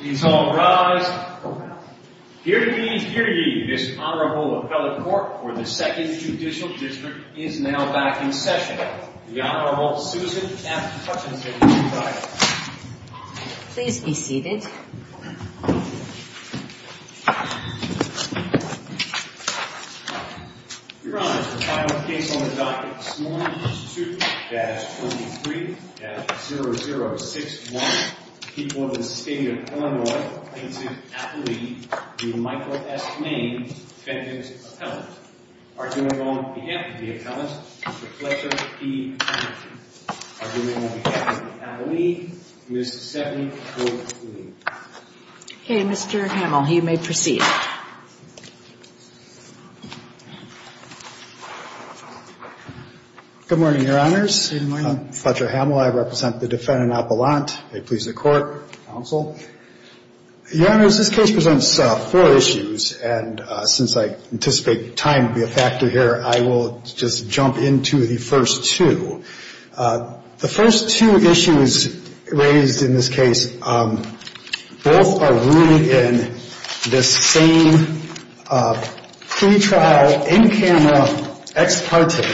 He's all rise. Here to be here to be this honorable appellate court for the second judicial district is now back in session. The Honorable Susan please be seated. Your honor, the final case on the docket this morning is 2-23-0061. People of the state of Illinois plaintiff's appellate, Michael S. Main, defendant's appellant. Arguing on behalf of the appellant, Mr. Fletcher E. Hamel. Arguing on behalf of the appellate, Ms. Stephanie O'Keefe. Okay, Mr. Hamel, you may proceed. Good morning, your honors. Good morning. I'm Fletcher Hamel. I represent the appellate counsel. Your honors, this case presents four issues. And since I anticipate time to be a factor here, I will just jump into the first two. The first two issues raised in this case, both are rooted in this same pretrial, in-camera, ex parte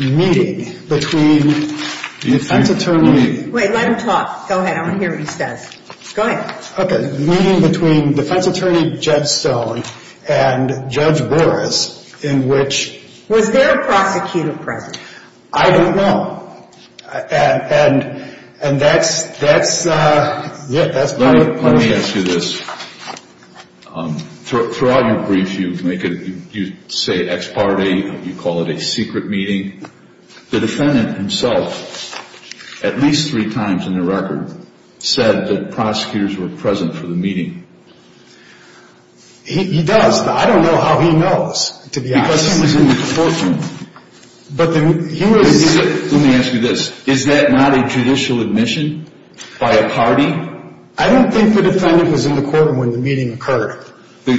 meeting between the defense attorney. Wait, let him talk. Go ahead. I want to hear what he says. Go ahead. Okay, the meeting between defense attorney Jed Stone and Judge Boris in which... Was there a prosecutor present? I don't know. And that's... Let me ask you this. Throughout your brief, you say ex parte, you call it a secret meeting. The defendant himself, at least three times in the record, said that prosecutors were present for the meeting. He does. I don't know how he knows, to be honest. Because he was in the courtroom. But he was... Let me ask you this. Is that not a judicial admission by a party? I don't think the defendant was in the courtroom when the meeting with the...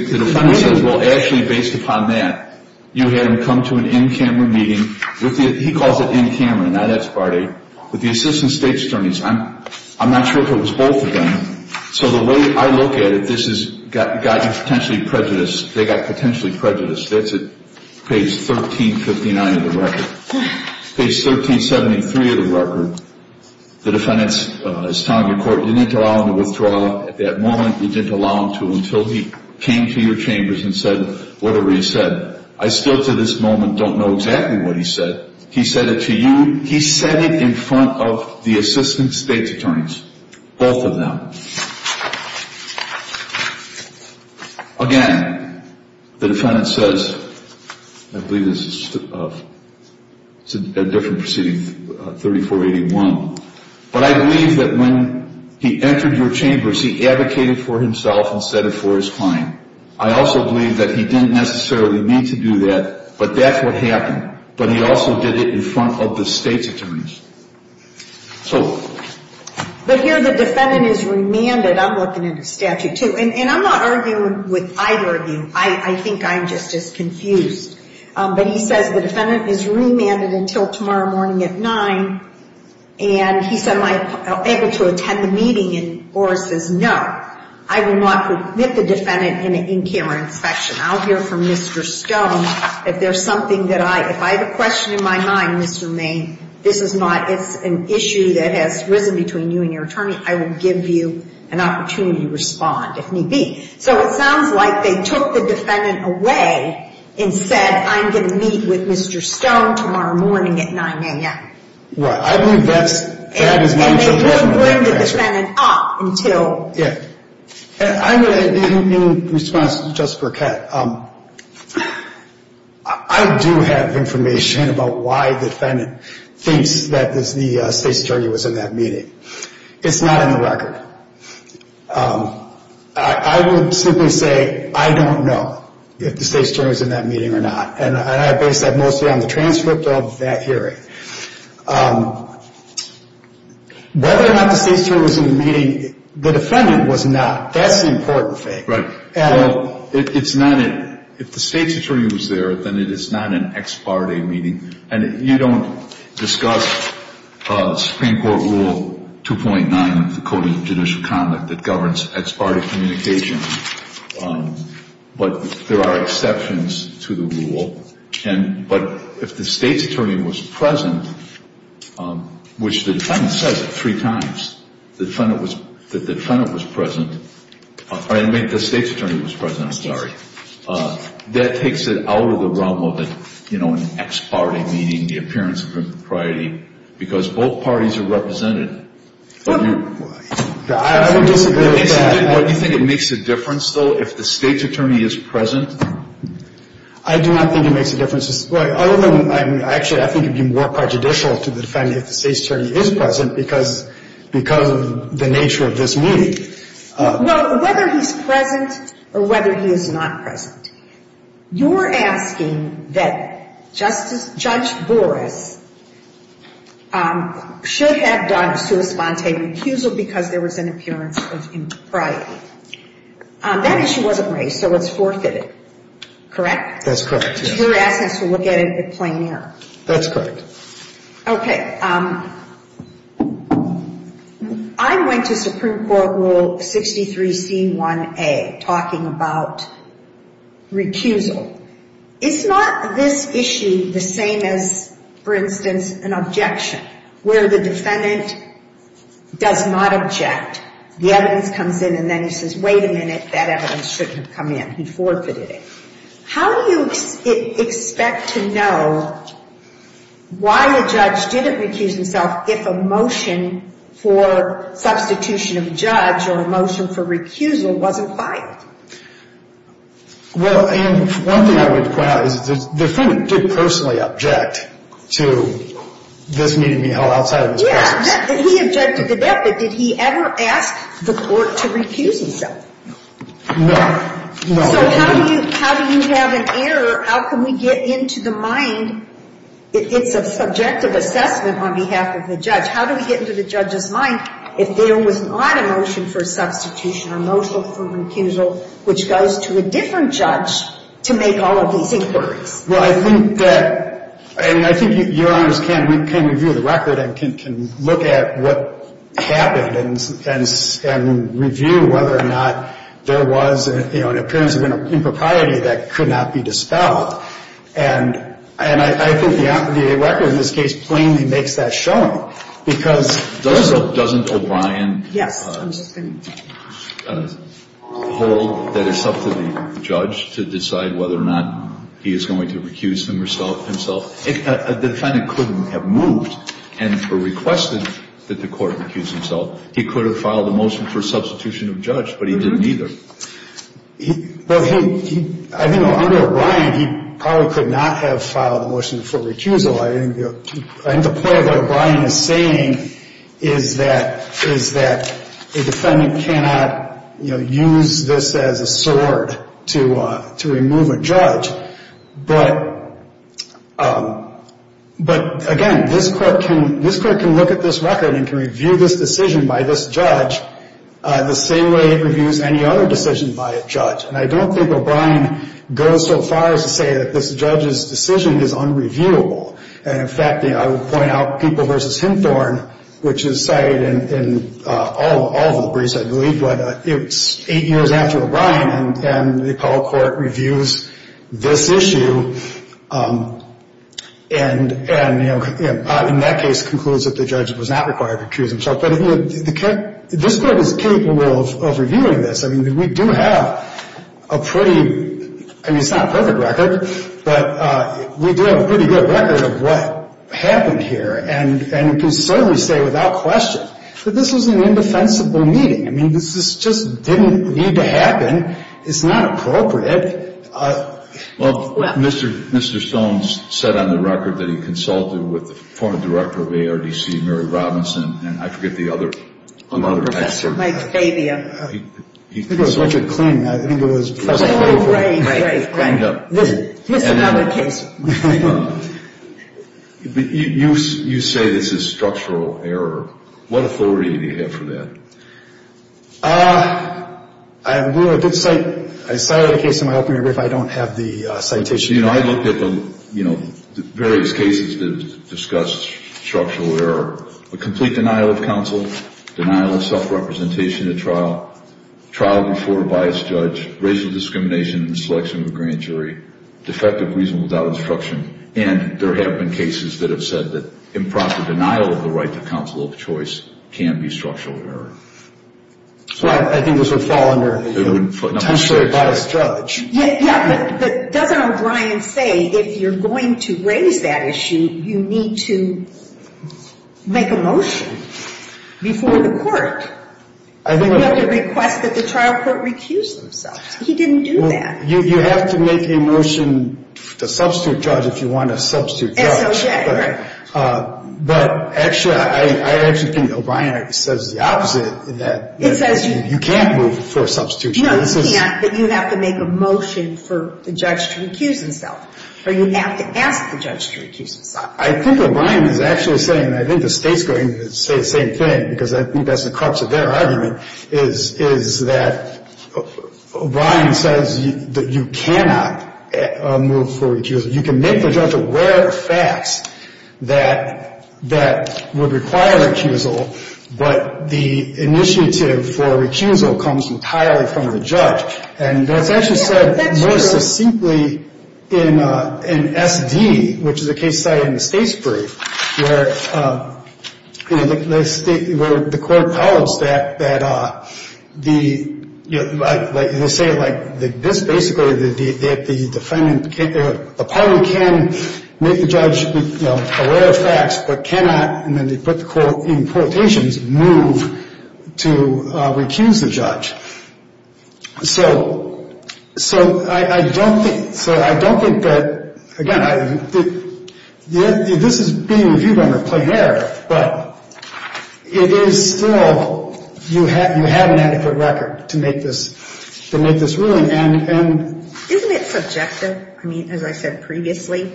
He calls it in-camera, not ex parte. With the assistant state attorneys, I'm not sure if it was both of them. So the way I look at it, this has got you potentially prejudiced. They got potentially prejudiced. That's at page 1359 of the record. Page 1373 of the record, the defendant is telling the court, you need to allow him to withdraw. At that moment, you didn't allow him to until he came to your chambers and said whatever he said. I still, to this moment, don't know exactly what he said. He said it to you. He said it in front of the assistant state's attorneys. Both of them. Again, the defendant says, I believe this is... It's a different proceeding, 3481. But I believe that when he entered your chambers, he advocated for himself and said it for his time. I also believe that he didn't necessarily mean to do that, but that's what happened. But he also did it in front of the state's attorneys. So... But here the defendant is remanded. I'm looking at a statute, too. And I'm not arguing with either of you. I think I'm just as confused. But he says the defendant is remanded until tomorrow morning at 9. And he said, am I able to attend the meeting? And Oris says, no. I will not permit the defendant in an in camera inspection. I'll hear from Mr. Stone if there's something that I... If I have a question in my mind, Mr. Maine, this is not... It's an issue that has risen between you and your attorney. I will give you an opportunity to respond if need be. So it sounds like they took the defendant away and said, I'm going to meet with Mr. Stone tomorrow morning at 9 a.m. Well, I believe that's... You wouldn't bring the defendant up until... Yeah. And in response to Justice Burkett, I do have information about why the defendant thinks that the state's attorney was in that meeting. It's not in the record. I would simply say I don't know if the state's attorney was in that meeting or not. And I base that mostly on the transcript of that hearing. Whether or not the state's attorney was in the meeting, the defendant was not. That's the important thing. Right. Well, it's not... If the state's attorney was there, then it is not an ex parte meeting. And you don't discuss Supreme Court Rule 2.9 of the Code of Judicial Conduct that governs ex parte communication. But there are exceptions to the rule. But if the state's attorney was present, which the defendant says three times that the defendant was present, or I mean the state's attorney was present, I'm sorry, that takes it out of the realm of an ex parte meeting, the appearance of impropriety, because both parties are represented. I would disagree with that. Do you think it makes a difference, though, if the state's attorney is present? I do not think it makes a difference. Other than I'm actually, I think it would be more prejudicial to the defendant if the state's attorney is present because of the nature of this meeting. Well, whether he's present or whether he is not present, you're asking that Justice Judge Boris should have done a sua sponte recusal because there was an appearance of impropriety. That issue wasn't raised, so it's forfeited, correct? That's correct, yes. We're asking to look at it in plain air. That's correct. Okay. I went to Supreme Court Rule 63C1A, talking about recusal. Is not this issue the same as, for instance, an objection, where the defendant does not object? The evidence comes in and then he says, wait a minute, that evidence shouldn't have come in. He forfeited it. How do you expect to know why a judge didn't recuse himself if a motion for substitution of a judge or a motion for recusal wasn't filed? Well, Ann, one thing I would point out is the defendant did personally object to this meeting being held outside of this process. Yeah, he objected to that, but did he ever ask the court to recuse himself? No. So how do you have an error? How can we get into the mind? It's a subjective assessment on behalf of the judge. How do we get into the judge's mind if there was not a motion for substitution or a motion for recusal which goes to a different judge to make all of these inquiries? Well, I think that — and I think Your Honors can review the record and can look at what happened and review whether or not there was, you know, an appearance of an impropriety that could not be dispelled. And I think the record in this case plainly makes that showing. Does it or doesn't O'Brien hold that it's up to the judge to decide whether or not he is going to recuse himself? If a defendant couldn't have moved and requested that the court recuse himself, he could have filed a motion for substitution of judge, but he didn't either. Well, he — I mean, under O'Brien, he probably could not have filed a motion for that. What I'm saying is that a defendant cannot, you know, use this as a sword to remove a judge. But, again, this court can look at this record and can review this decision by this judge the same way it reviews any other decision by a judge. And I don't think O'Brien goes so far as to say that this judge's decision is unreviewable. And, in fact, I will point out People v. Hymthorne, which is cited in all of the briefs, I believe, but it's eight years after O'Brien, and the Apollo Court reviews this issue and, you know, in that case concludes that the judge was not required to recuse himself. But this court is capable of reviewing this. I mean, we do have a pretty — I mean, it's not a perfect record, but we do have a pretty good record of what happened here. And we can certainly say without question that this was an indefensible meeting. I mean, this just didn't need to happen. It's not appropriate. Well, Mr. Stone said on the record that he consulted with the former director of ARDC, Mary Robinson, and I forget the other — Professor Mike Fabian. I think it was Richard Kling. I think it was — Oh, right, right, right. Here's another case. You say this is structural error. What authority do you have for that? I have a good sight. I cited a case in my opening brief. I don't have the citation. You know, I looked at the, you know, various cases that discussed structural error, a complete denial of counsel, denial of self-representation at trial, trial before a biased judge, racial discrimination in the selection of a grand jury, defective reason without instruction. And there have been cases that have said that improper denial of the right to counsel of choice can be structural error. I think this would fall under potentially a biased judge. Yeah, but doesn't O'Brien say if you're going to raise that issue, you need to make a motion before the court? I think — You have to request that the trial court recuse themselves. He didn't do that. You have to make a motion to substitute judge if you want to substitute judge. S.O.J., right. But actually, I actually think O'Brien says the opposite in that — It says — You can't move for a substitute judge. No, you can't, but you have to make a motion for the judge to recuse himself. Or you have to ask the judge to recuse himself. I think O'Brien is actually saying, and I think the State's going to say the same thing, because I think that's the crux of their argument, is that O'Brien says that you cannot move for recusal. You can make the judge aware of facts that would require recusal, but the initiative for recusal comes entirely from the judge. And that's actually said more succinctly in S.D., which is a case study in the State's brief, where the State — where the court calls that the — you know, they say it like this, basically, that the defendant — a party can make the judge aware of facts but cannot — but the state's expectations move to recuse the judge. So I don't think — so I don't think that — again, this is being a view-bender play here, but it is still — you have an adequate record to make this ruling. And — Isn't it subjective? I mean, as I said previously?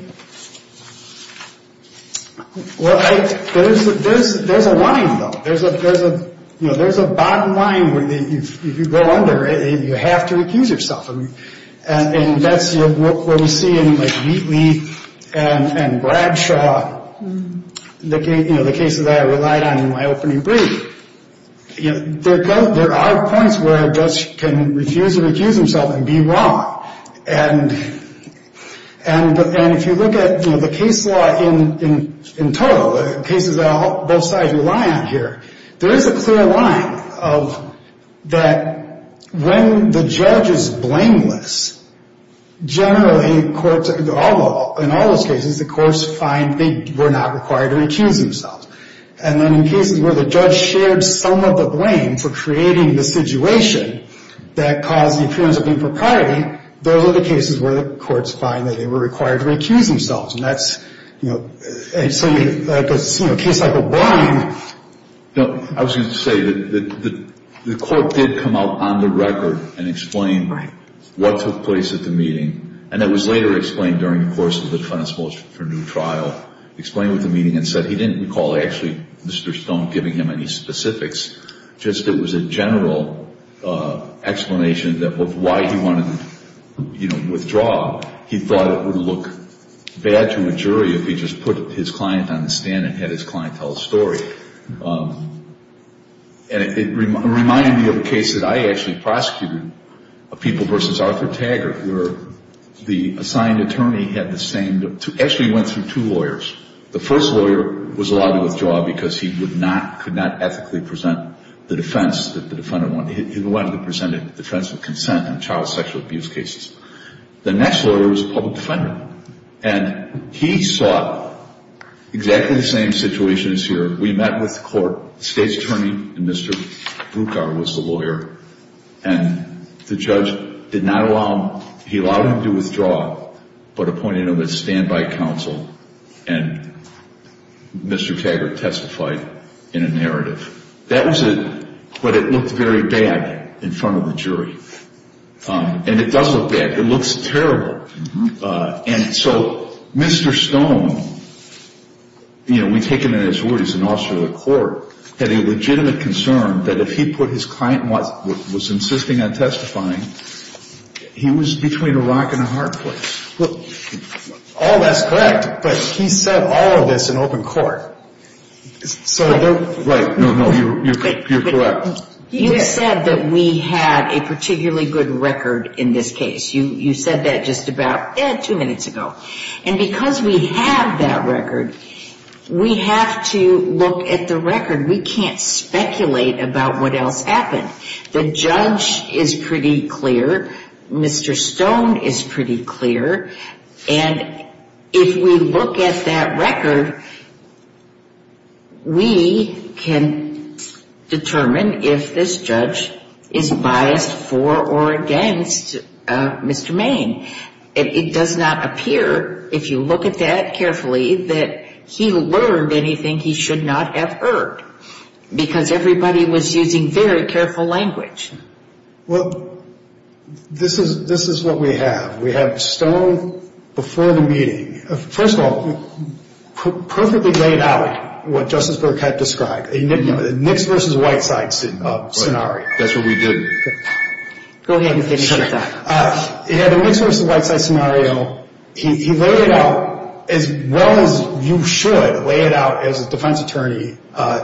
Well, I — there's a line, though. There's a — you know, there's a bottom line where you go under, and you have to recuse yourself. And that's what we see in, like, Wheatley and Bradshaw, you know, the cases that I relied on in my opening brief. You know, there are points where a judge can refuse to recuse himself and be wrong. And if you look at, you know, the case law in total, the cases that both sides rely on here, there is a clear line of that when the judge is blameless, generally courts — in all those cases, the courts find they were not required to recuse themselves. And then in cases where the judge shared some of the blame for creating the situation that caused the appearance of impropriety, those are the cases where the courts find that they were required to recuse themselves. And that's, you know — and so, you know, a case like O'Brien — No, I was going to say that the court did come out on the record and explain — Right. — what took place at the meeting. And that was later explained during the course of the defense motion for new trial, explained what the meeting had said. He didn't recall actually Mr. Stone giving him any specifics. Just it was a general explanation of why he wanted to, you know, withdraw. He thought it would look bad to a jury if he just put his client on the stand and had his client tell a story. And it reminded me of a case that I actually prosecuted, a people versus Arthur Taggart, where the assigned attorney had the same — actually went through two lawyers. The first lawyer was allowed to withdraw because he would not — could not ethically present the defense that the defendant wanted. He wanted to present a defense of consent in child sexual abuse cases. The next lawyer was a public defender. And he saw exactly the same situation as here. We met with the court. The state's attorney, Mr. Bruckauer, was the lawyer. And the judge did not allow him — he allowed him to withdraw, but appointed him as standby counsel, and Mr. Taggart testified in a narrative. That was a — but it looked very bad in front of the jury. And it does look bad. It looks terrible. And so Mr. Stone, you know, we take him at his word. He's an officer of the court, had a legitimate concern that if he put his client was insisting on testifying, he was between a rock and a hard place. Oh, that's correct. But he said all of this in open court. So you're — Right. No, no. You're correct. You said that we had a particularly good record in this case. You said that just about two minutes ago. And because we have that record, we have to look at the record. We can't speculate about what else happened. The judge is pretty clear. Mr. Stone is pretty clear. And if we look at that record, we can determine if this judge is biased for or against Mr. Main. It does not appear, if you look at that carefully, that he learned anything he should not have heard because everybody was using very careful language. Well, this is what we have. We have Stone before the meeting. First of all, perfectly laid out what Justice Burkett described, a Knicks versus Whiteside scenario. That's what we did. Go ahead. He had a Knicks versus Whiteside scenario. He laid it out as well as you should lay it out as a defense attorney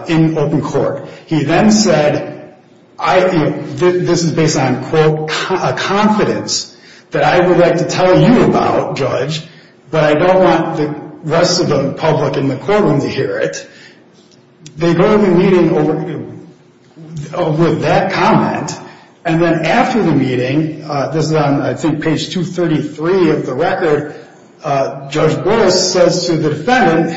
in open court. He then said, this is based on, quote, confidence that I would like to tell you about, judge, but I don't want the rest of the public in the courtroom to hear it. They go to the meeting with that comment. And then after the meeting, this is on, I think, page 233 of the record, Judge Burris says to the defendant,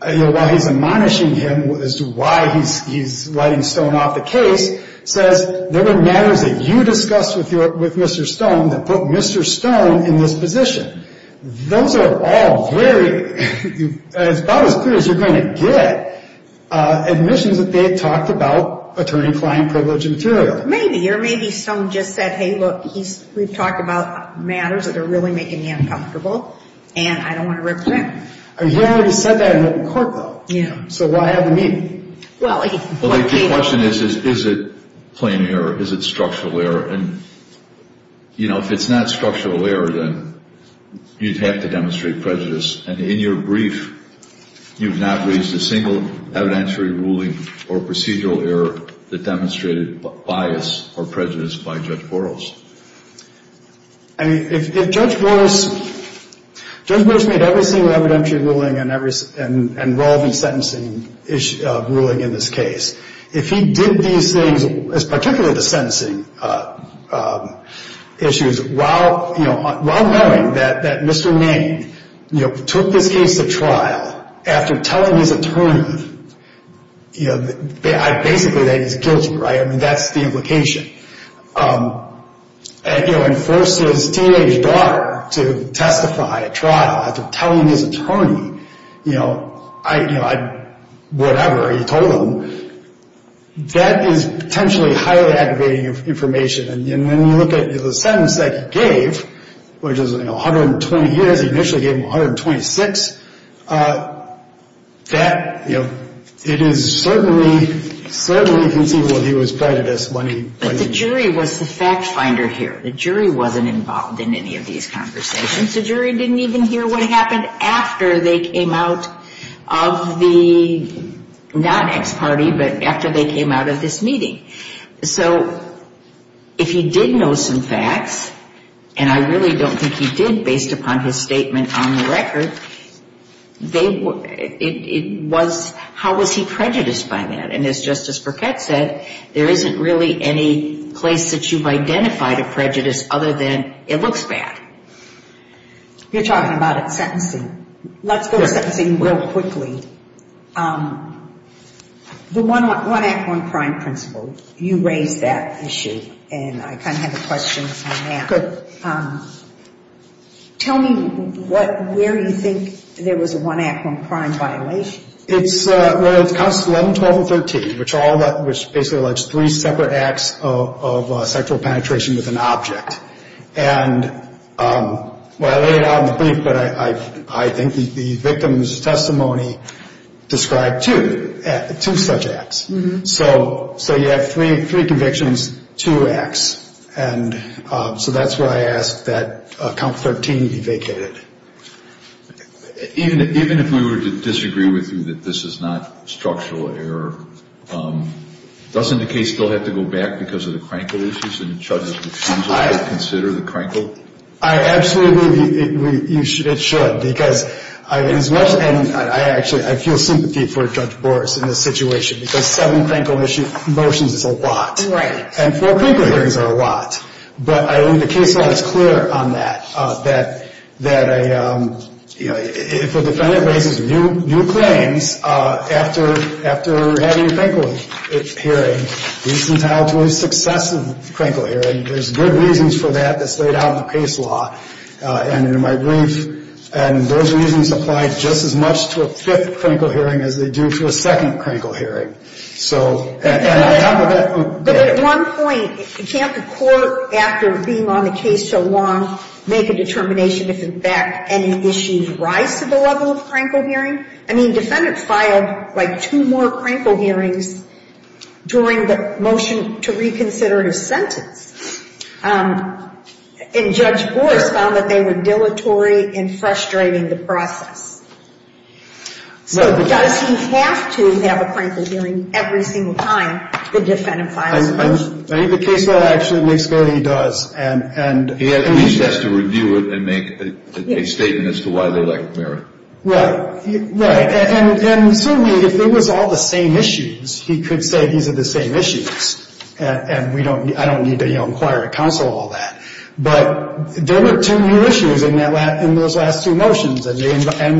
while he's admonishing him as to why he's letting Stone off the case, says, there were matters that you discussed with Mr. Stone that put Mr. Stone in this position. Those are all very, as about as clear as you're going to get, admissions that they had talked about attorney-client privilege and material. Maybe. Or maybe Stone just said, hey, look, we've talked about matters that are really making me uncomfortable, and I don't want to represent them. He already said that in open court, though. Yeah. So why have the meeting? Well, I think the question is, is it plain error? Is it structural error? And, you know, if it's not structural error, then you'd have to demonstrate prejudice. And in your brief, you've not raised a single evidentiary ruling or procedural error that demonstrated bias or prejudice by Judge Burris. I mean, if Judge Burris made every single evidentiary ruling and relevant sentencing ruling in this case, if he did these things, particularly the sentencing issues, while knowing that Mr. Main took this case to trial after telling his attorney, you know, basically that he's guilty, right? I mean, that's the implication. And, you know, forced his teenage daughter to testify at trial after telling his attorney, you know, whatever he told him, that is potentially highly aggravating information. And then you look at the sentence that he gave, which is 120 years. He initially gave him 126. That, you know, it is certainly, certainly conceivable that he was prejudiced when he... But the jury was the fact finder here. The jury wasn't involved in any of these conversations. The jury didn't even hear what happened after they came out of the, not ex parte, but after they came out of this meeting. So if he did know some facts, and I really don't think he did based upon his statement on the record, it was how was he prejudiced by that. And as Justice Burkett said, there isn't really any place that you've identified a prejudice other than it looks bad. You're talking about sentencing. Let's go to sentencing real quickly. The one act, one crime principle, you raised that issue, and I kind of have a question on that. Good. Tell me where you think there was a one act, one crime violation. It's, well, it's counts 11, 12, and 13, which basically allege three separate acts of sexual penetration with an object. And, well, I laid it out in the brief, but I think the victim's testimony described two, two such acts. So you have three convictions, two acts. And so that's where I ask that count 13 be vacated. Even if we were to disagree with you that this is not structural error, doesn't the case still have to go back because of the Krenkel issues? And Judges, would you consider the Krenkel? I absolutely, it should, because as much, and I actually, I feel sympathy for Judge Boris in this situation, because seven Krenkel motions is a lot. And four Krenkel hearings are a lot. But I think the case law is clear on that, that if a defendant raises new claims after having a Krenkel hearing, he's entitled to a successive Krenkel hearing. There's good reasons for that that's laid out in the case law and in my brief. And those reasons apply just as much to a fifth Krenkel hearing as they do to a second Krenkel hearing. But at one point, can't the court, after being on the case so long, make a determination if in fact any issues rise to the level of Krenkel hearing? I mean, defendants filed like two more Krenkel hearings during the motion to reconsider his sentence. And Judge Boris found that they were dilatory and frustrating the process. So does he have to have a Krenkel hearing every single time the defendant files a motion? I think the case law actually makes clear that he does. And he at least has to review it and make a statement as to why they lack merit. Right. Right. And certainly if it was all the same issues, he could say these are the same issues. And we don't, I don't need to, you know, inquire at counsel all that. But there were two new issues in those last two motions. And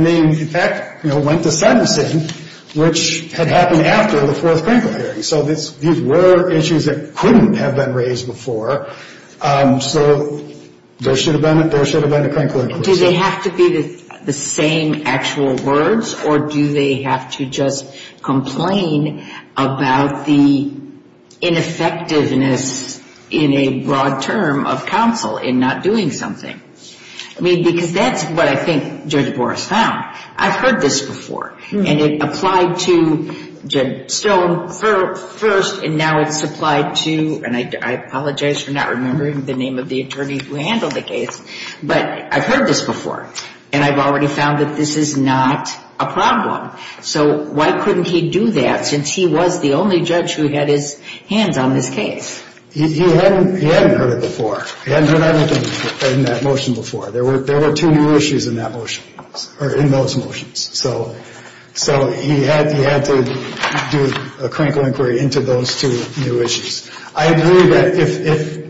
they, in fact, went to sentencing, which had happened after the fourth Krenkel hearing. So these were issues that couldn't have been raised before. So there should have been a Krenkel hearing. Do they have to be the same actual words? Or do they have to just complain about the ineffectiveness in a broad term of counsel in not doing something? I mean, because that's what I think Judge Boris found. I've heard this before. And it applied to Jed Stone first, and now it's applied to, and I apologize for not remembering the name of the attorney who handled the case. But I've heard this before, and I've already found that this is not a problem. So why couldn't he do that since he was the only judge who had his hands on this case? He hadn't heard it before. He hadn't heard anything in that motion before. There were two new issues in that motion, or in those motions. So he had to do a Krenkel inquiry into those two new issues. I agree that if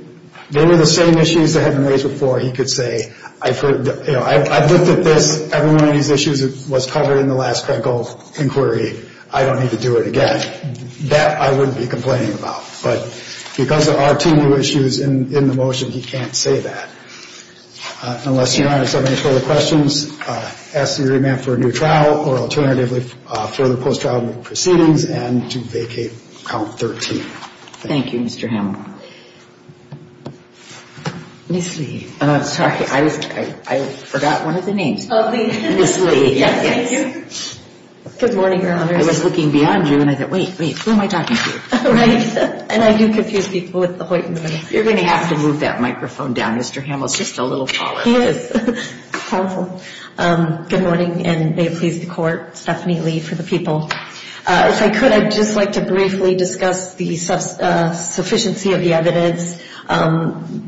they were the same issues that hadn't been raised before, he could say, I've looked at this. Every one of these issues was covered in the last Krenkel inquiry. I don't need to do it again. That I wouldn't be complaining about. But because there are two new issues in the motion, he can't say that. Unless Your Honor has any further questions, ask the jury man for a new trial or alternatively further post-trial proceedings and to vacate count 13. Thank you, Mr. Hamill. Ms. Lee. I'm sorry. I forgot one of the names. Ms. Lee. Yes, thank you. Good morning, Your Honor. I was looking beyond you, and I thought, wait, wait, who am I talking to? Right. And I do confuse people with the Hoyt. You're going to have to move that microphone down. Mr. Hamill is just a little taller. He is. Powerful. Good morning, and may it please the Court. Stephanie Lee for the people. If I could, I'd just like to briefly discuss the sufficiency of the evidence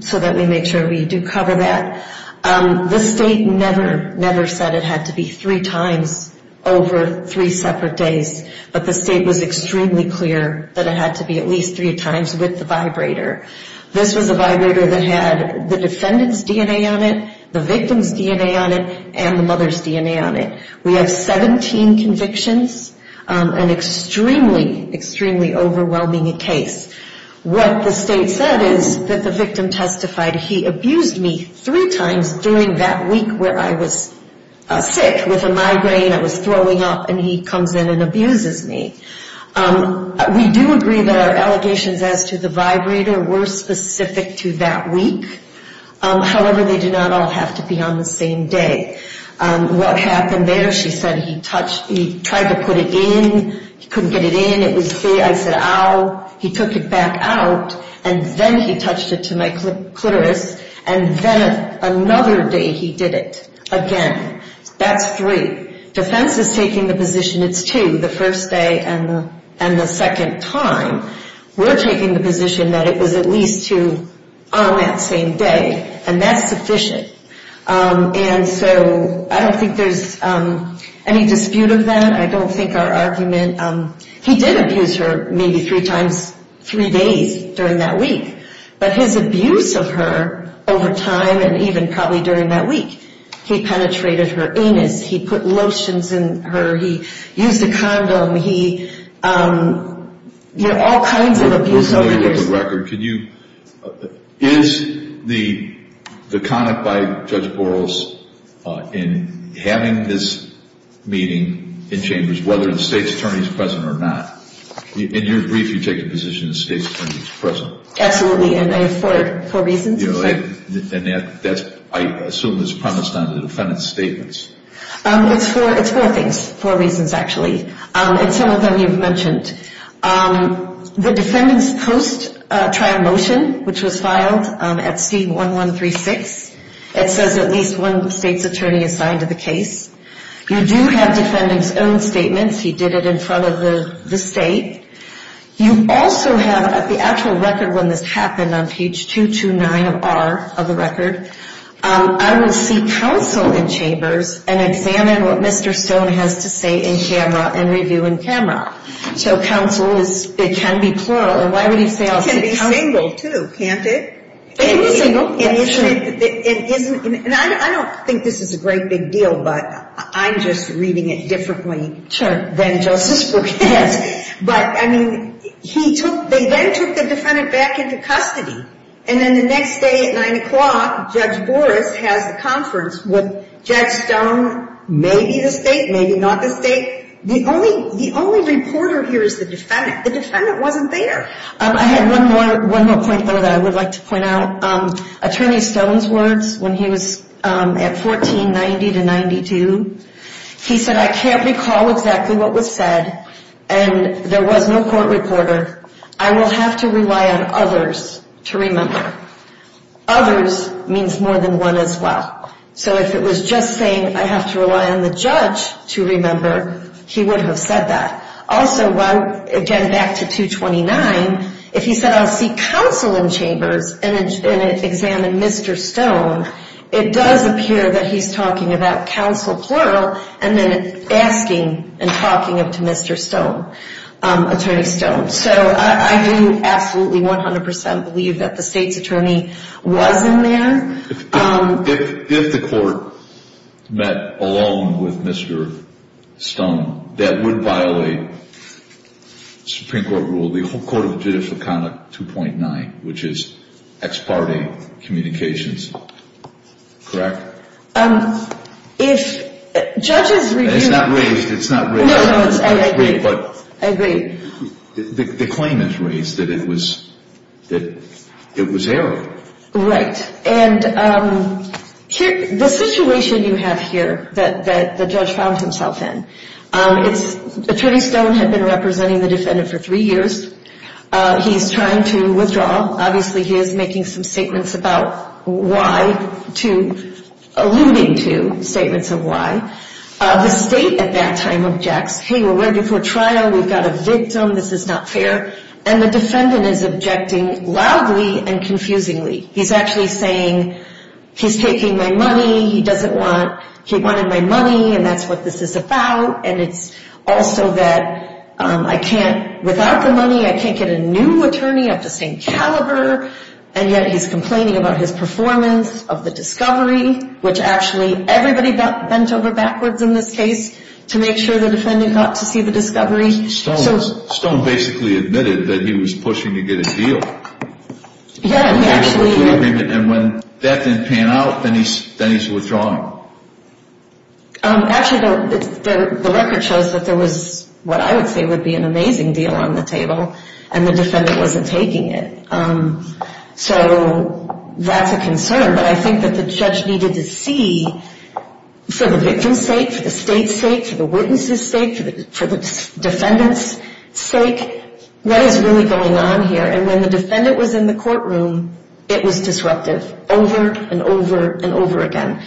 so that we make sure we do cover that. The State never, never said it had to be three times over three separate days, but the State was extremely clear that it had to be at least three times with the vibrator. This was a vibrator that had the defendant's DNA on it, the victim's DNA on it, and the mother's DNA on it. We have 17 convictions, an extremely, extremely overwhelming case. What the State said is that the victim testified he abused me three times during that week where I was sick with a migraine, I was throwing up, and he comes in and abuses me. We do agree that our allegations as to the vibrator were specific to that week. However, they do not all have to be on the same day. What happened later, she said he touched, he tried to put it in, he couldn't get it in. It was, I said, ow. He took it back out, and then he touched it to my clitoris, and then another day he did it again. That's three. Defense is taking the position it's two, the first day and the second time. We're taking the position that it was at least two on that same day, and that's sufficient. And so I don't think there's any dispute of that. I don't think our argument, he did abuse her maybe three times, three days during that week. But his abuse of her over time and even probably during that week, he penetrated her anus. He put lotions in her. He used a condom. Let me look at the record. Is the comment by Judge Boros in having this meeting in chambers, whether the state's attorney is present or not? In your brief, you take the position the state's attorney is present. Absolutely, and I have four reasons. And I assume it's premised on the defendant's statements. It's four things, four reasons, actually, and some of them you've mentioned. The defendant's post-trial motion, which was filed at C1136, it says at least one state's attorney is signed to the case. You do have defendant's own statements. He did it in front of the state. You also have the actual record when this happened on page 229 of R of the record. I will seek counsel in chambers and examine what Mr. Stone has to say in camera and review in camera. So counsel is, it can be plural, and why would he say all this? It can be single, too, can't it? It is single, yes, sure. And isn't, and I don't think this is a great big deal, but I'm just reading it differently than Justice Brewer has. But, I mean, he took, they then took the defendant back into custody. And then the next day at 9 o'clock, Judge Boros has a conference with Judge Stone, maybe the state, maybe not the state. The only reporter here is the defendant. The defendant wasn't there. I had one more point, though, that I would like to point out. Attorney Stone's words when he was at 1490 to 92, he said, I can't recall exactly what was said, and there was no court reporter. I will have to rely on others to remember. Others means more than one as well. So if it was just saying I have to rely on the judge to remember, he would have said that. Also, again, back to 229, if he said I'll seek counsel in chambers and examine Mr. Stone, it does appear that he's talking about counsel plural and then asking and talking up to Mr. Stone, Attorney Stone. So I do absolutely 100% believe that the state's attorney was in there. If the court met alone with Mr. Stone, that would violate Supreme Court rule, the whole Court of Judicial Conduct 2.9, which is ex parte communications. Correct? If judges review. It's not raised. It's not raised. No, no, I agree. I agree. The claim is raised that it was that it was error. Right. And the situation you have here that the judge found himself in, Attorney Stone had been representing the defendant for three years. He's trying to withdraw. Obviously, he is making some statements about why, alluding to statements of why. The state at that time objects, hey, we're right before trial. We've got a victim. This is not fair. And the defendant is objecting loudly and confusingly. He's actually saying he's taking my money. He doesn't want, he wanted my money, and that's what this is about. And it's also that I can't, without the money, I can't get a new attorney of the same caliber. And yet he's complaining about his performance of the discovery, which actually everybody bent over backwards in this case to make sure the defendant got to see the discovery. Stone basically admitted that he was pushing to get a deal. Yeah. And when that didn't pan out, then he's withdrawing. Actually, the record shows that there was what I would say would be an amazing deal on the table, and the defendant wasn't taking it. So that's a concern. But I think that the judge needed to see, for the victim's sake, for the state's sake, for the witness's sake, for the defendant's sake, what is really going on here. And when the defendant was in the courtroom, it was disruptive over and over and over again.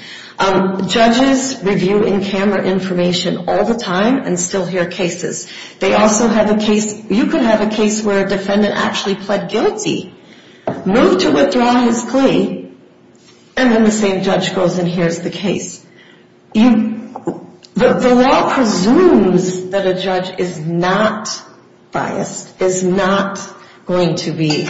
Judges review in-camera information all the time and still hear cases. They also have a case, you could have a case where a defendant actually pled guilty, moved to withdraw his plea, and then the same judge goes and hears the case. The law presumes that a judge is not biased, is not going to be.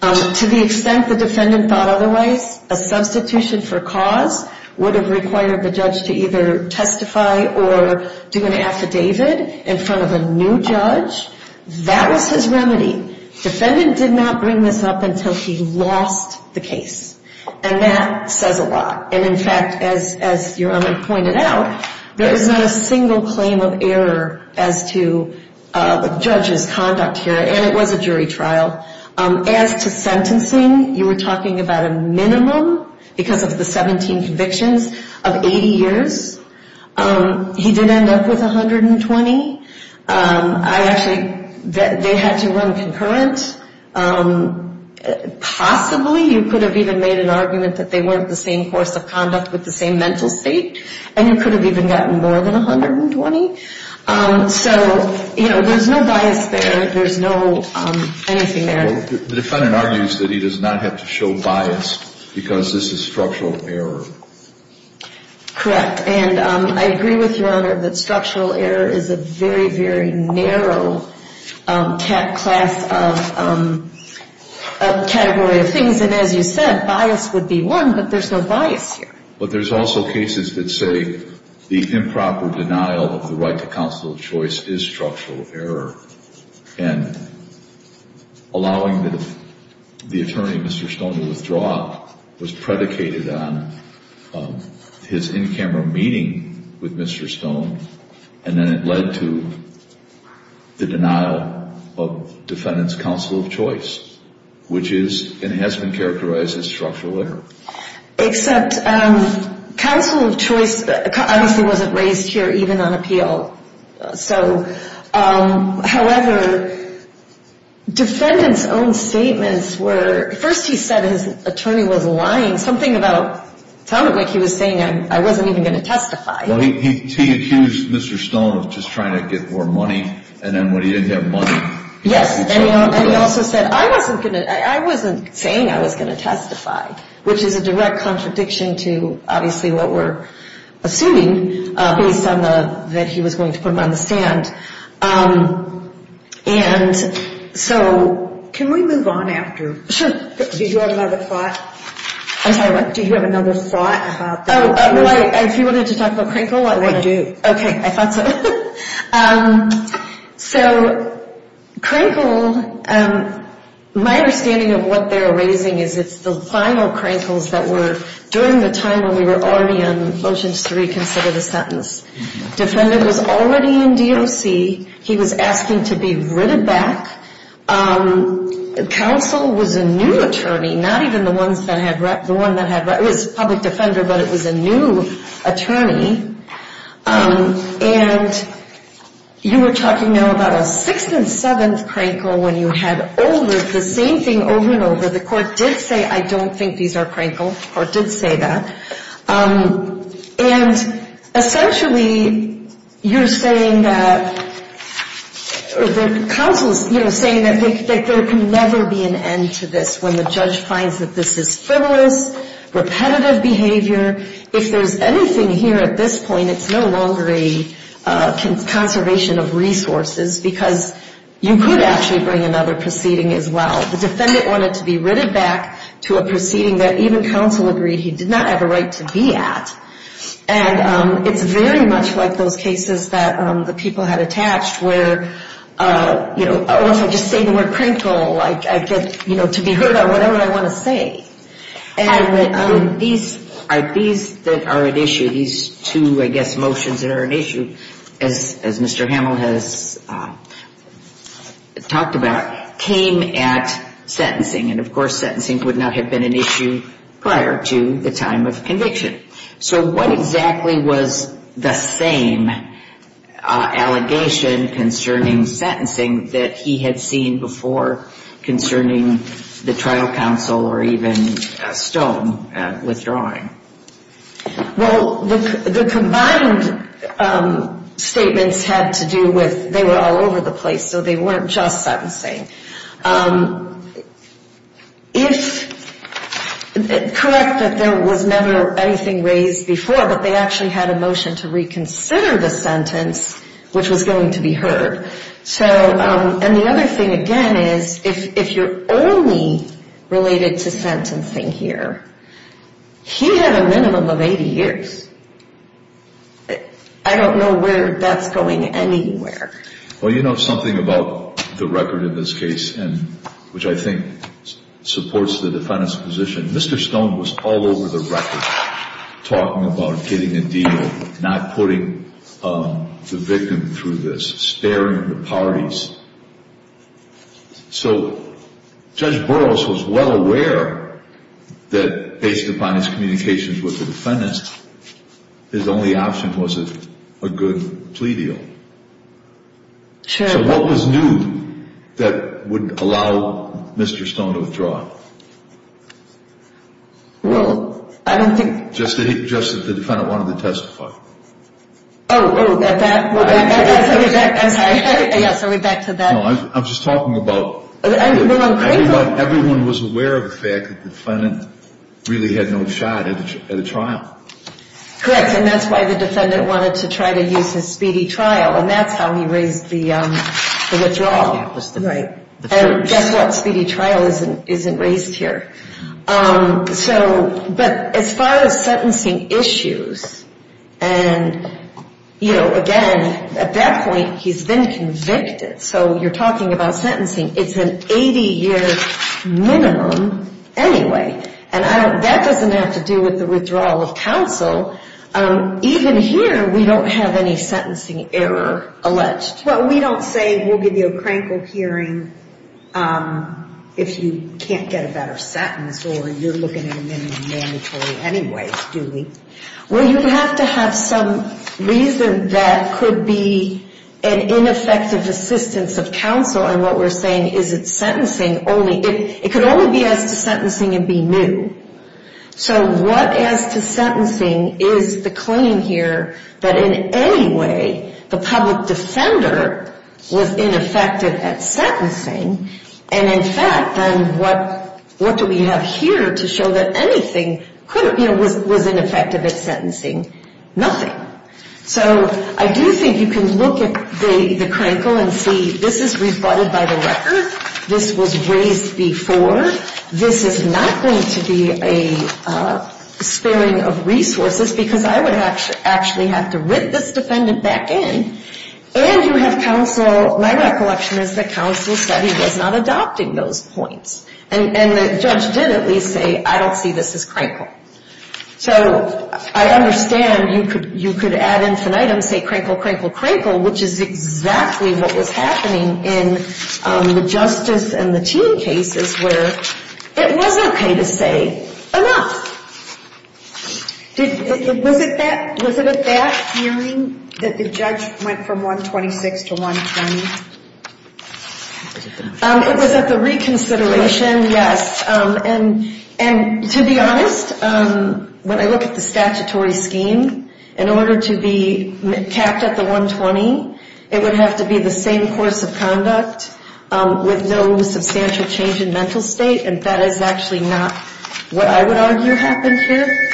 To the extent the defendant thought otherwise, a substitution for cause would have required the judge to either testify or do an affidavit in front of a new judge. That was his remedy. Defendant did not bring this up until he lost the case. And that says a lot. And, in fact, as Your Honor pointed out, there is not a single claim of error as to the judge's conduct here, and it was a jury trial. As to sentencing, you were talking about a minimum, because of the 17 convictions, of 80 years. He did end up with 120. I actually, they had to run concurrent. Possibly you could have even made an argument that they weren't the same course of conduct with the same mental state, and you could have even gotten more than 120. So, you know, there's no bias there. There's no anything there. The defendant argues that he does not have to show bias because this is structural error. Correct. And I agree with Your Honor that structural error is a very, very narrow class of category of things. And, as you said, bias would be one, but there's no bias here. But there's also cases that say the improper denial of the right to counsel of choice is structural error. And allowing the attorney, Mr. Stone, to withdraw was predicated on his in-camera meeting with Mr. Stone, and then it led to the denial of defendant's counsel of choice, which is and has been characterized as structural error. Except counsel of choice obviously wasn't raised here even on appeal. So, however, defendant's own statements were, first he said his attorney was lying. Something about it sounded like he was saying, I wasn't even going to testify. Well, he accused Mr. Stone of just trying to get more money, and then when he didn't have money. Yes, and he also said, I wasn't going to, I wasn't saying I was going to testify, which is a direct contradiction to obviously what we're assuming based on the, that he was going to put him on the stand. And so, can we move on after? Sure. Did you have another thought? I'm sorry, what? Did you have another thought about this? Oh, well, if you wanted to talk about Crankle, I would. I do. Okay, I thought so. So, Crankle, my understanding of what they're raising is it's the final Crankles that were, during the time when we were already on motions to reconsider the sentence. Defendant was already in DOC. He was asking to be written back. Counsel was a new attorney, not even the ones that had, the one that had, it was public defender, but it was a new attorney. And you were talking now about a sixth and seventh Crankle when you had over, the same thing over and over. The court did say, I don't think these are Crankle. The court did say that. And essentially, you're saying that, or the counsel is, you know, saying that there can never be an end to this when the judge finds that this is frivolous, repetitive behavior. If there's anything here at this point, it's no longer a conservation of resources because you could actually bring another proceeding as well. The defendant wanted to be written back to a proceeding that even counsel agreed he did not have a right to be at. And it's very much like those cases that the people had attached where, you know, or if I just say the word Crankle, I get, you know, to be heard on whatever I want to say. And these, these that are at issue, these two, I guess, motions that are at issue, as Mr. Hamill has talked about, came at sentencing. And of course, sentencing would not have been an issue prior to the time of conviction. So what exactly was the same allegation concerning sentencing that he had seen before concerning the trial counsel or even Stone withdrawing? Well, the combined statements had to do with they were all over the place. So they weren't just sentencing. It's correct that there was never anything raised before, but they actually had a motion to reconsider the sentence, which was going to be heard. So, and the other thing, again, is if you're only related to sentencing here, he had a minimum of 80 years. I don't know where that's going anywhere. Well, you know something about the record in this case, which I think supports the defendant's position, Mr. Stone was all over the record talking about getting a deal, not putting the victim through this, staring at the parties. So Judge Burroughs was well aware that based upon his communications with the defendant, his only option was a good plea deal. So what was new that would allow Mr. Stone to withdraw? Well, I don't think. Just that the defendant wanted to testify. Oh, oh, that, that. Yes, I'll get back to that. No, I'm just talking about. Everyone was aware of the fact that the defendant really had no shot at a trial. Correct, and that's why the defendant wanted to try to use his speedy trial, and that's how he raised the withdrawal. Right. And guess what? Speedy trial isn't raised here. But as far as sentencing issues, and, you know, again, at that point he's been convicted, so you're talking about sentencing. It's an 80-year minimum anyway, and that doesn't have to do with the withdrawal of counsel. Even here we don't have any sentencing error alleged. Well, we don't say we'll give you a crankled hearing if you can't get a better sentence or you're looking at a minimum mandatory anyway, do we? Well, you have to have some reason that could be an ineffective assistance of counsel, and what we're saying is it's sentencing only. It could only be as to sentencing and be new. So what as to sentencing is the claim here that in any way the public defender was ineffective at sentencing, and in fact then what do we have here to show that anything was ineffective at sentencing? Nothing. So I do think you can look at the crankle and see this is rebutted by the record. This was raised before. This is not going to be a spilling of resources because I would actually have to writ this defendant back in, and you have counsel my recollection is that counsel said he was not adopting those points, and the judge did at least say I don't see this as crankle. So I understand you could add infinitum, say crankle, crankle, crankle, which is exactly what was happening in the justice and the teen cases where it wasn't okay to say enough. Was it at that hearing that the judge went from 126 to 120? It was at the reconsideration, yes, and to be honest, when I look at the statutory scheme, in order to be capped at the 120, it would have to be the same course of conduct with no substantial change in mental state, and that is actually not what I would argue happened here.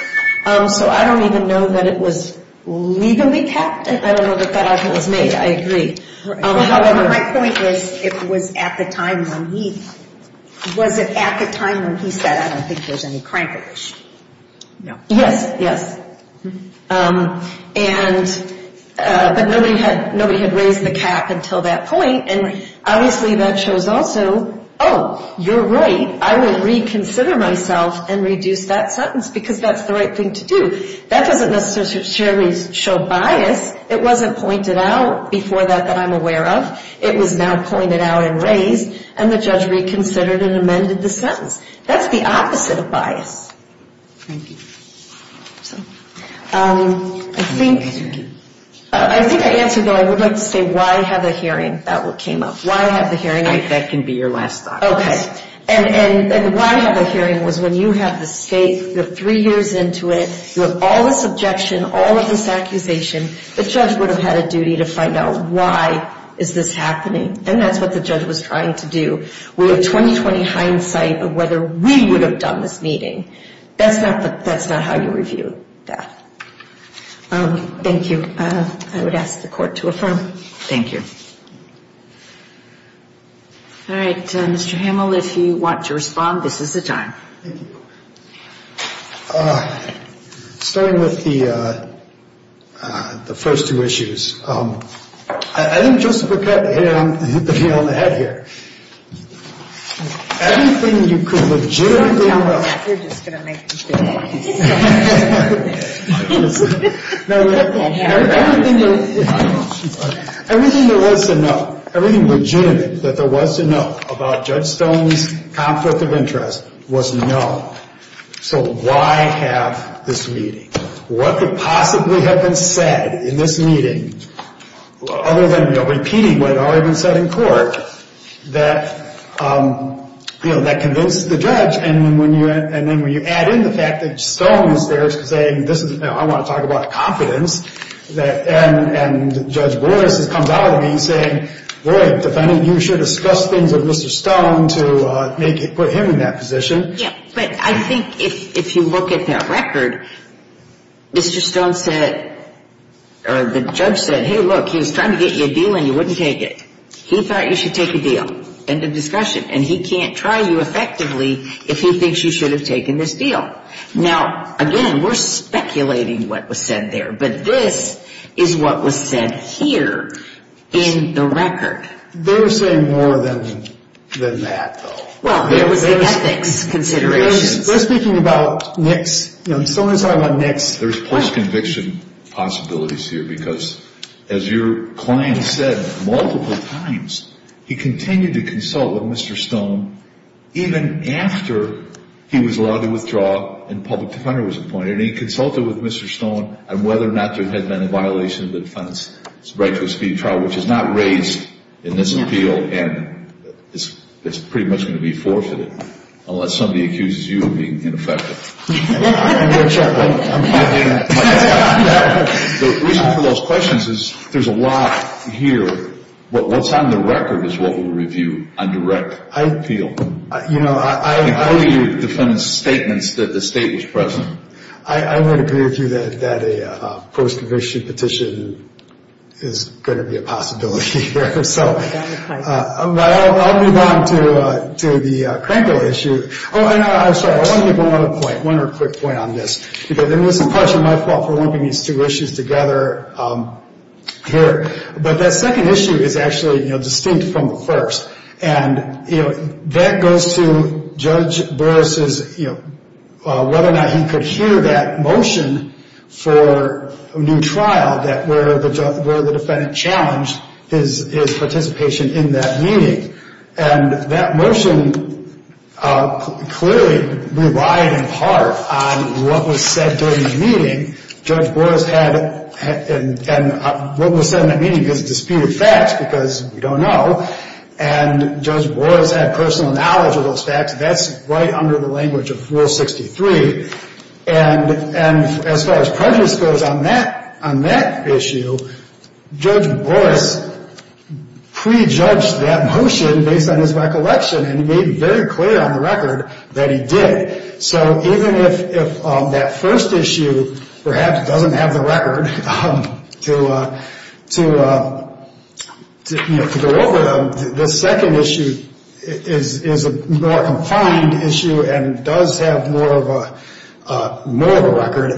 So I don't even know that it was legally capped. I don't know that that argument was made. I agree. My point is it was at the time when he, was it at the time when he said I don't think there's any crankles? No. Yes, yes, but nobody had raised the cap until that point, and obviously that shows also, oh, you're right, I will reconsider myself and reduce that sentence because that's the right thing to do. That doesn't necessarily show bias. It wasn't pointed out before that that I'm aware of. It was now pointed out and raised, and the judge reconsidered and amended the sentence. That's the opposite of bias. Thank you. I think I answered, though, I would like to say why have a hearing? That came up. Why have the hearing? That can be your last thought. Okay, and why have a hearing was when you have the state, you're three years into it, you have all this objection, all of this accusation, the judge would have had a duty to find out why is this happening, and that's what the judge was trying to do. We have 20-20 hindsight of whether we would have done this meeting. That's not how you review that. Thank you. I would ask the court to affirm. Thank you. All right, Mr. Hamill, if you want to respond, this is the time. Thank you. Starting with the first two issues, I think Joseph had hit the nail on the head here. Everything you could legitimately know. You're just going to make me do it. Everything there was to know, everything legitimate that there was to know about Judge Stone's conflict of interest was known. So why have this meeting? What could possibly have been said in this meeting, other than repeating what had already been said in court, that convinced the judge? And then when you add in the fact that Stone is there saying, I want to talk about confidence, and Judge Boris has come out of me saying, boy, you should discuss things with Mr. Stone to put him in that position. Yeah, but I think if you look at that record, Mr. Stone said, or the judge said, hey, look, he was trying to get you a deal and you wouldn't take it. He thought you should take a deal. End of discussion. And he can't try you effectively if he thinks you should have taken this deal. Now, again, we're speculating what was said there. But this is what was said here in the record. They were saying more than that, though. Well, there was the ethics considerations. They're speaking about NICS. Someone was talking about NICS. There's post-conviction possibilities here because, as your client said multiple times, he continued to consult with Mr. Stone even after he was allowed to withdraw and a public defender was appointed. And he consulted with Mr. Stone on whether or not there had been a violation of the defendant's right to a speedy trial, which is not raised in this appeal, and it's pretty much going to be forfeited, unless somebody accuses you of being ineffective. I'm going to check. The reason for those questions is there's a lot here. What's on the record is what we'll review on direct appeal. How do you defend statements that the state was present? I would agree with you that a post-conviction petition is going to be a possibility here. But I'll move on to the Cranberry issue. Oh, and I'm sorry. I want to make one other point, one other quick point on this, because it was partially my fault for lumping these two issues together here. But that second issue is actually distinct from the first, and that goes to Judge Boris's whether or not he could hear that motion for a new trial where the defendant challenged his participation in that meeting. And that motion clearly relied in part on what was said during the meeting. And what was said in that meeting is disputed facts, because we don't know. And Judge Boris had personal knowledge of those facts. That's right under the language of Rule 63. And as far as prejudice goes on that issue, Judge Boris prejudged that motion based on his recollection, and he made it very clear on the record that he did. So even if that first issue perhaps doesn't have the record to go over, the second issue is a more confined issue and does have more of a record.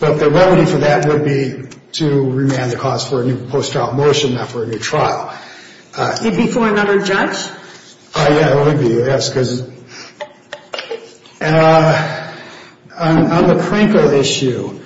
But the remedy for that would be to remand the cause for a new post-trial motion, not for a new trial. It would be for another judge? Yeah, it would be, yes, because on the Krinker issue,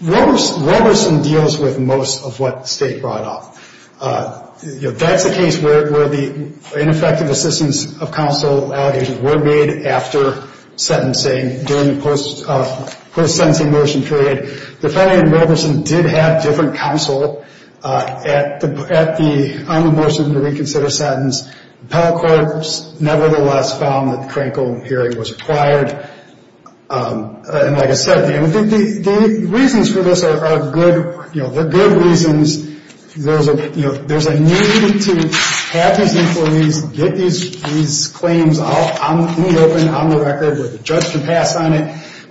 Wilberson deals with most of what the State brought up. That's a case where the ineffective assistance of counsel allegations were made after sentencing, during the post-sentencing motion period. Defendant Wilberson did have different counsel on the motion to reconsider sentence. The appellate court nevertheless found that the Krinker hearing was required. And like I said, the reasons for this are good. There are good reasons. There's a need to have these inquiries, get these claims in the open, on the record, where the judge can pass on it,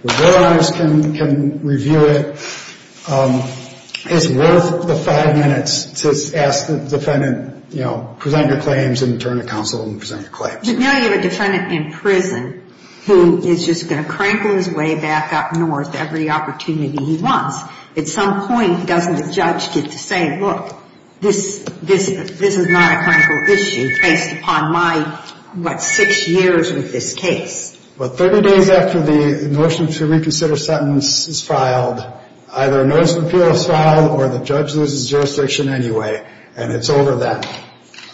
where the war honors can review it. It's worth the five minutes to ask the defendant, you know, present your claims and turn to counsel and present your claims. But now you have a defendant in prison who is just going to crankle his way back up north every opportunity he wants. At some point, doesn't the judge get to say, look, this is not a critical issue, based upon my, what, six years with this case? Well, 30 days after the motion to reconsider sentence is filed, either a notice of appeal is filed or the judge loses jurisdiction anyway, and it's over then.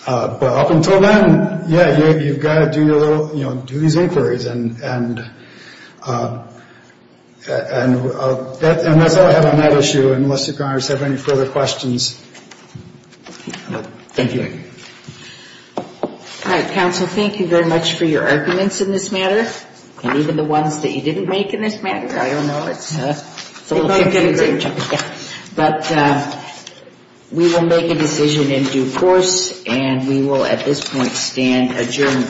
But up until then, yeah, you've got to do your little, you know, do these inquiries. And that's all I have on that issue, unless you, Congress, have any further questions. Thank you. All right, counsel, thank you very much for your arguments in this matter, and even the ones that you didn't make in this matter. I don't know, it's a little confusing. But we will make a decision in due course, and we will at this point stand adjourned.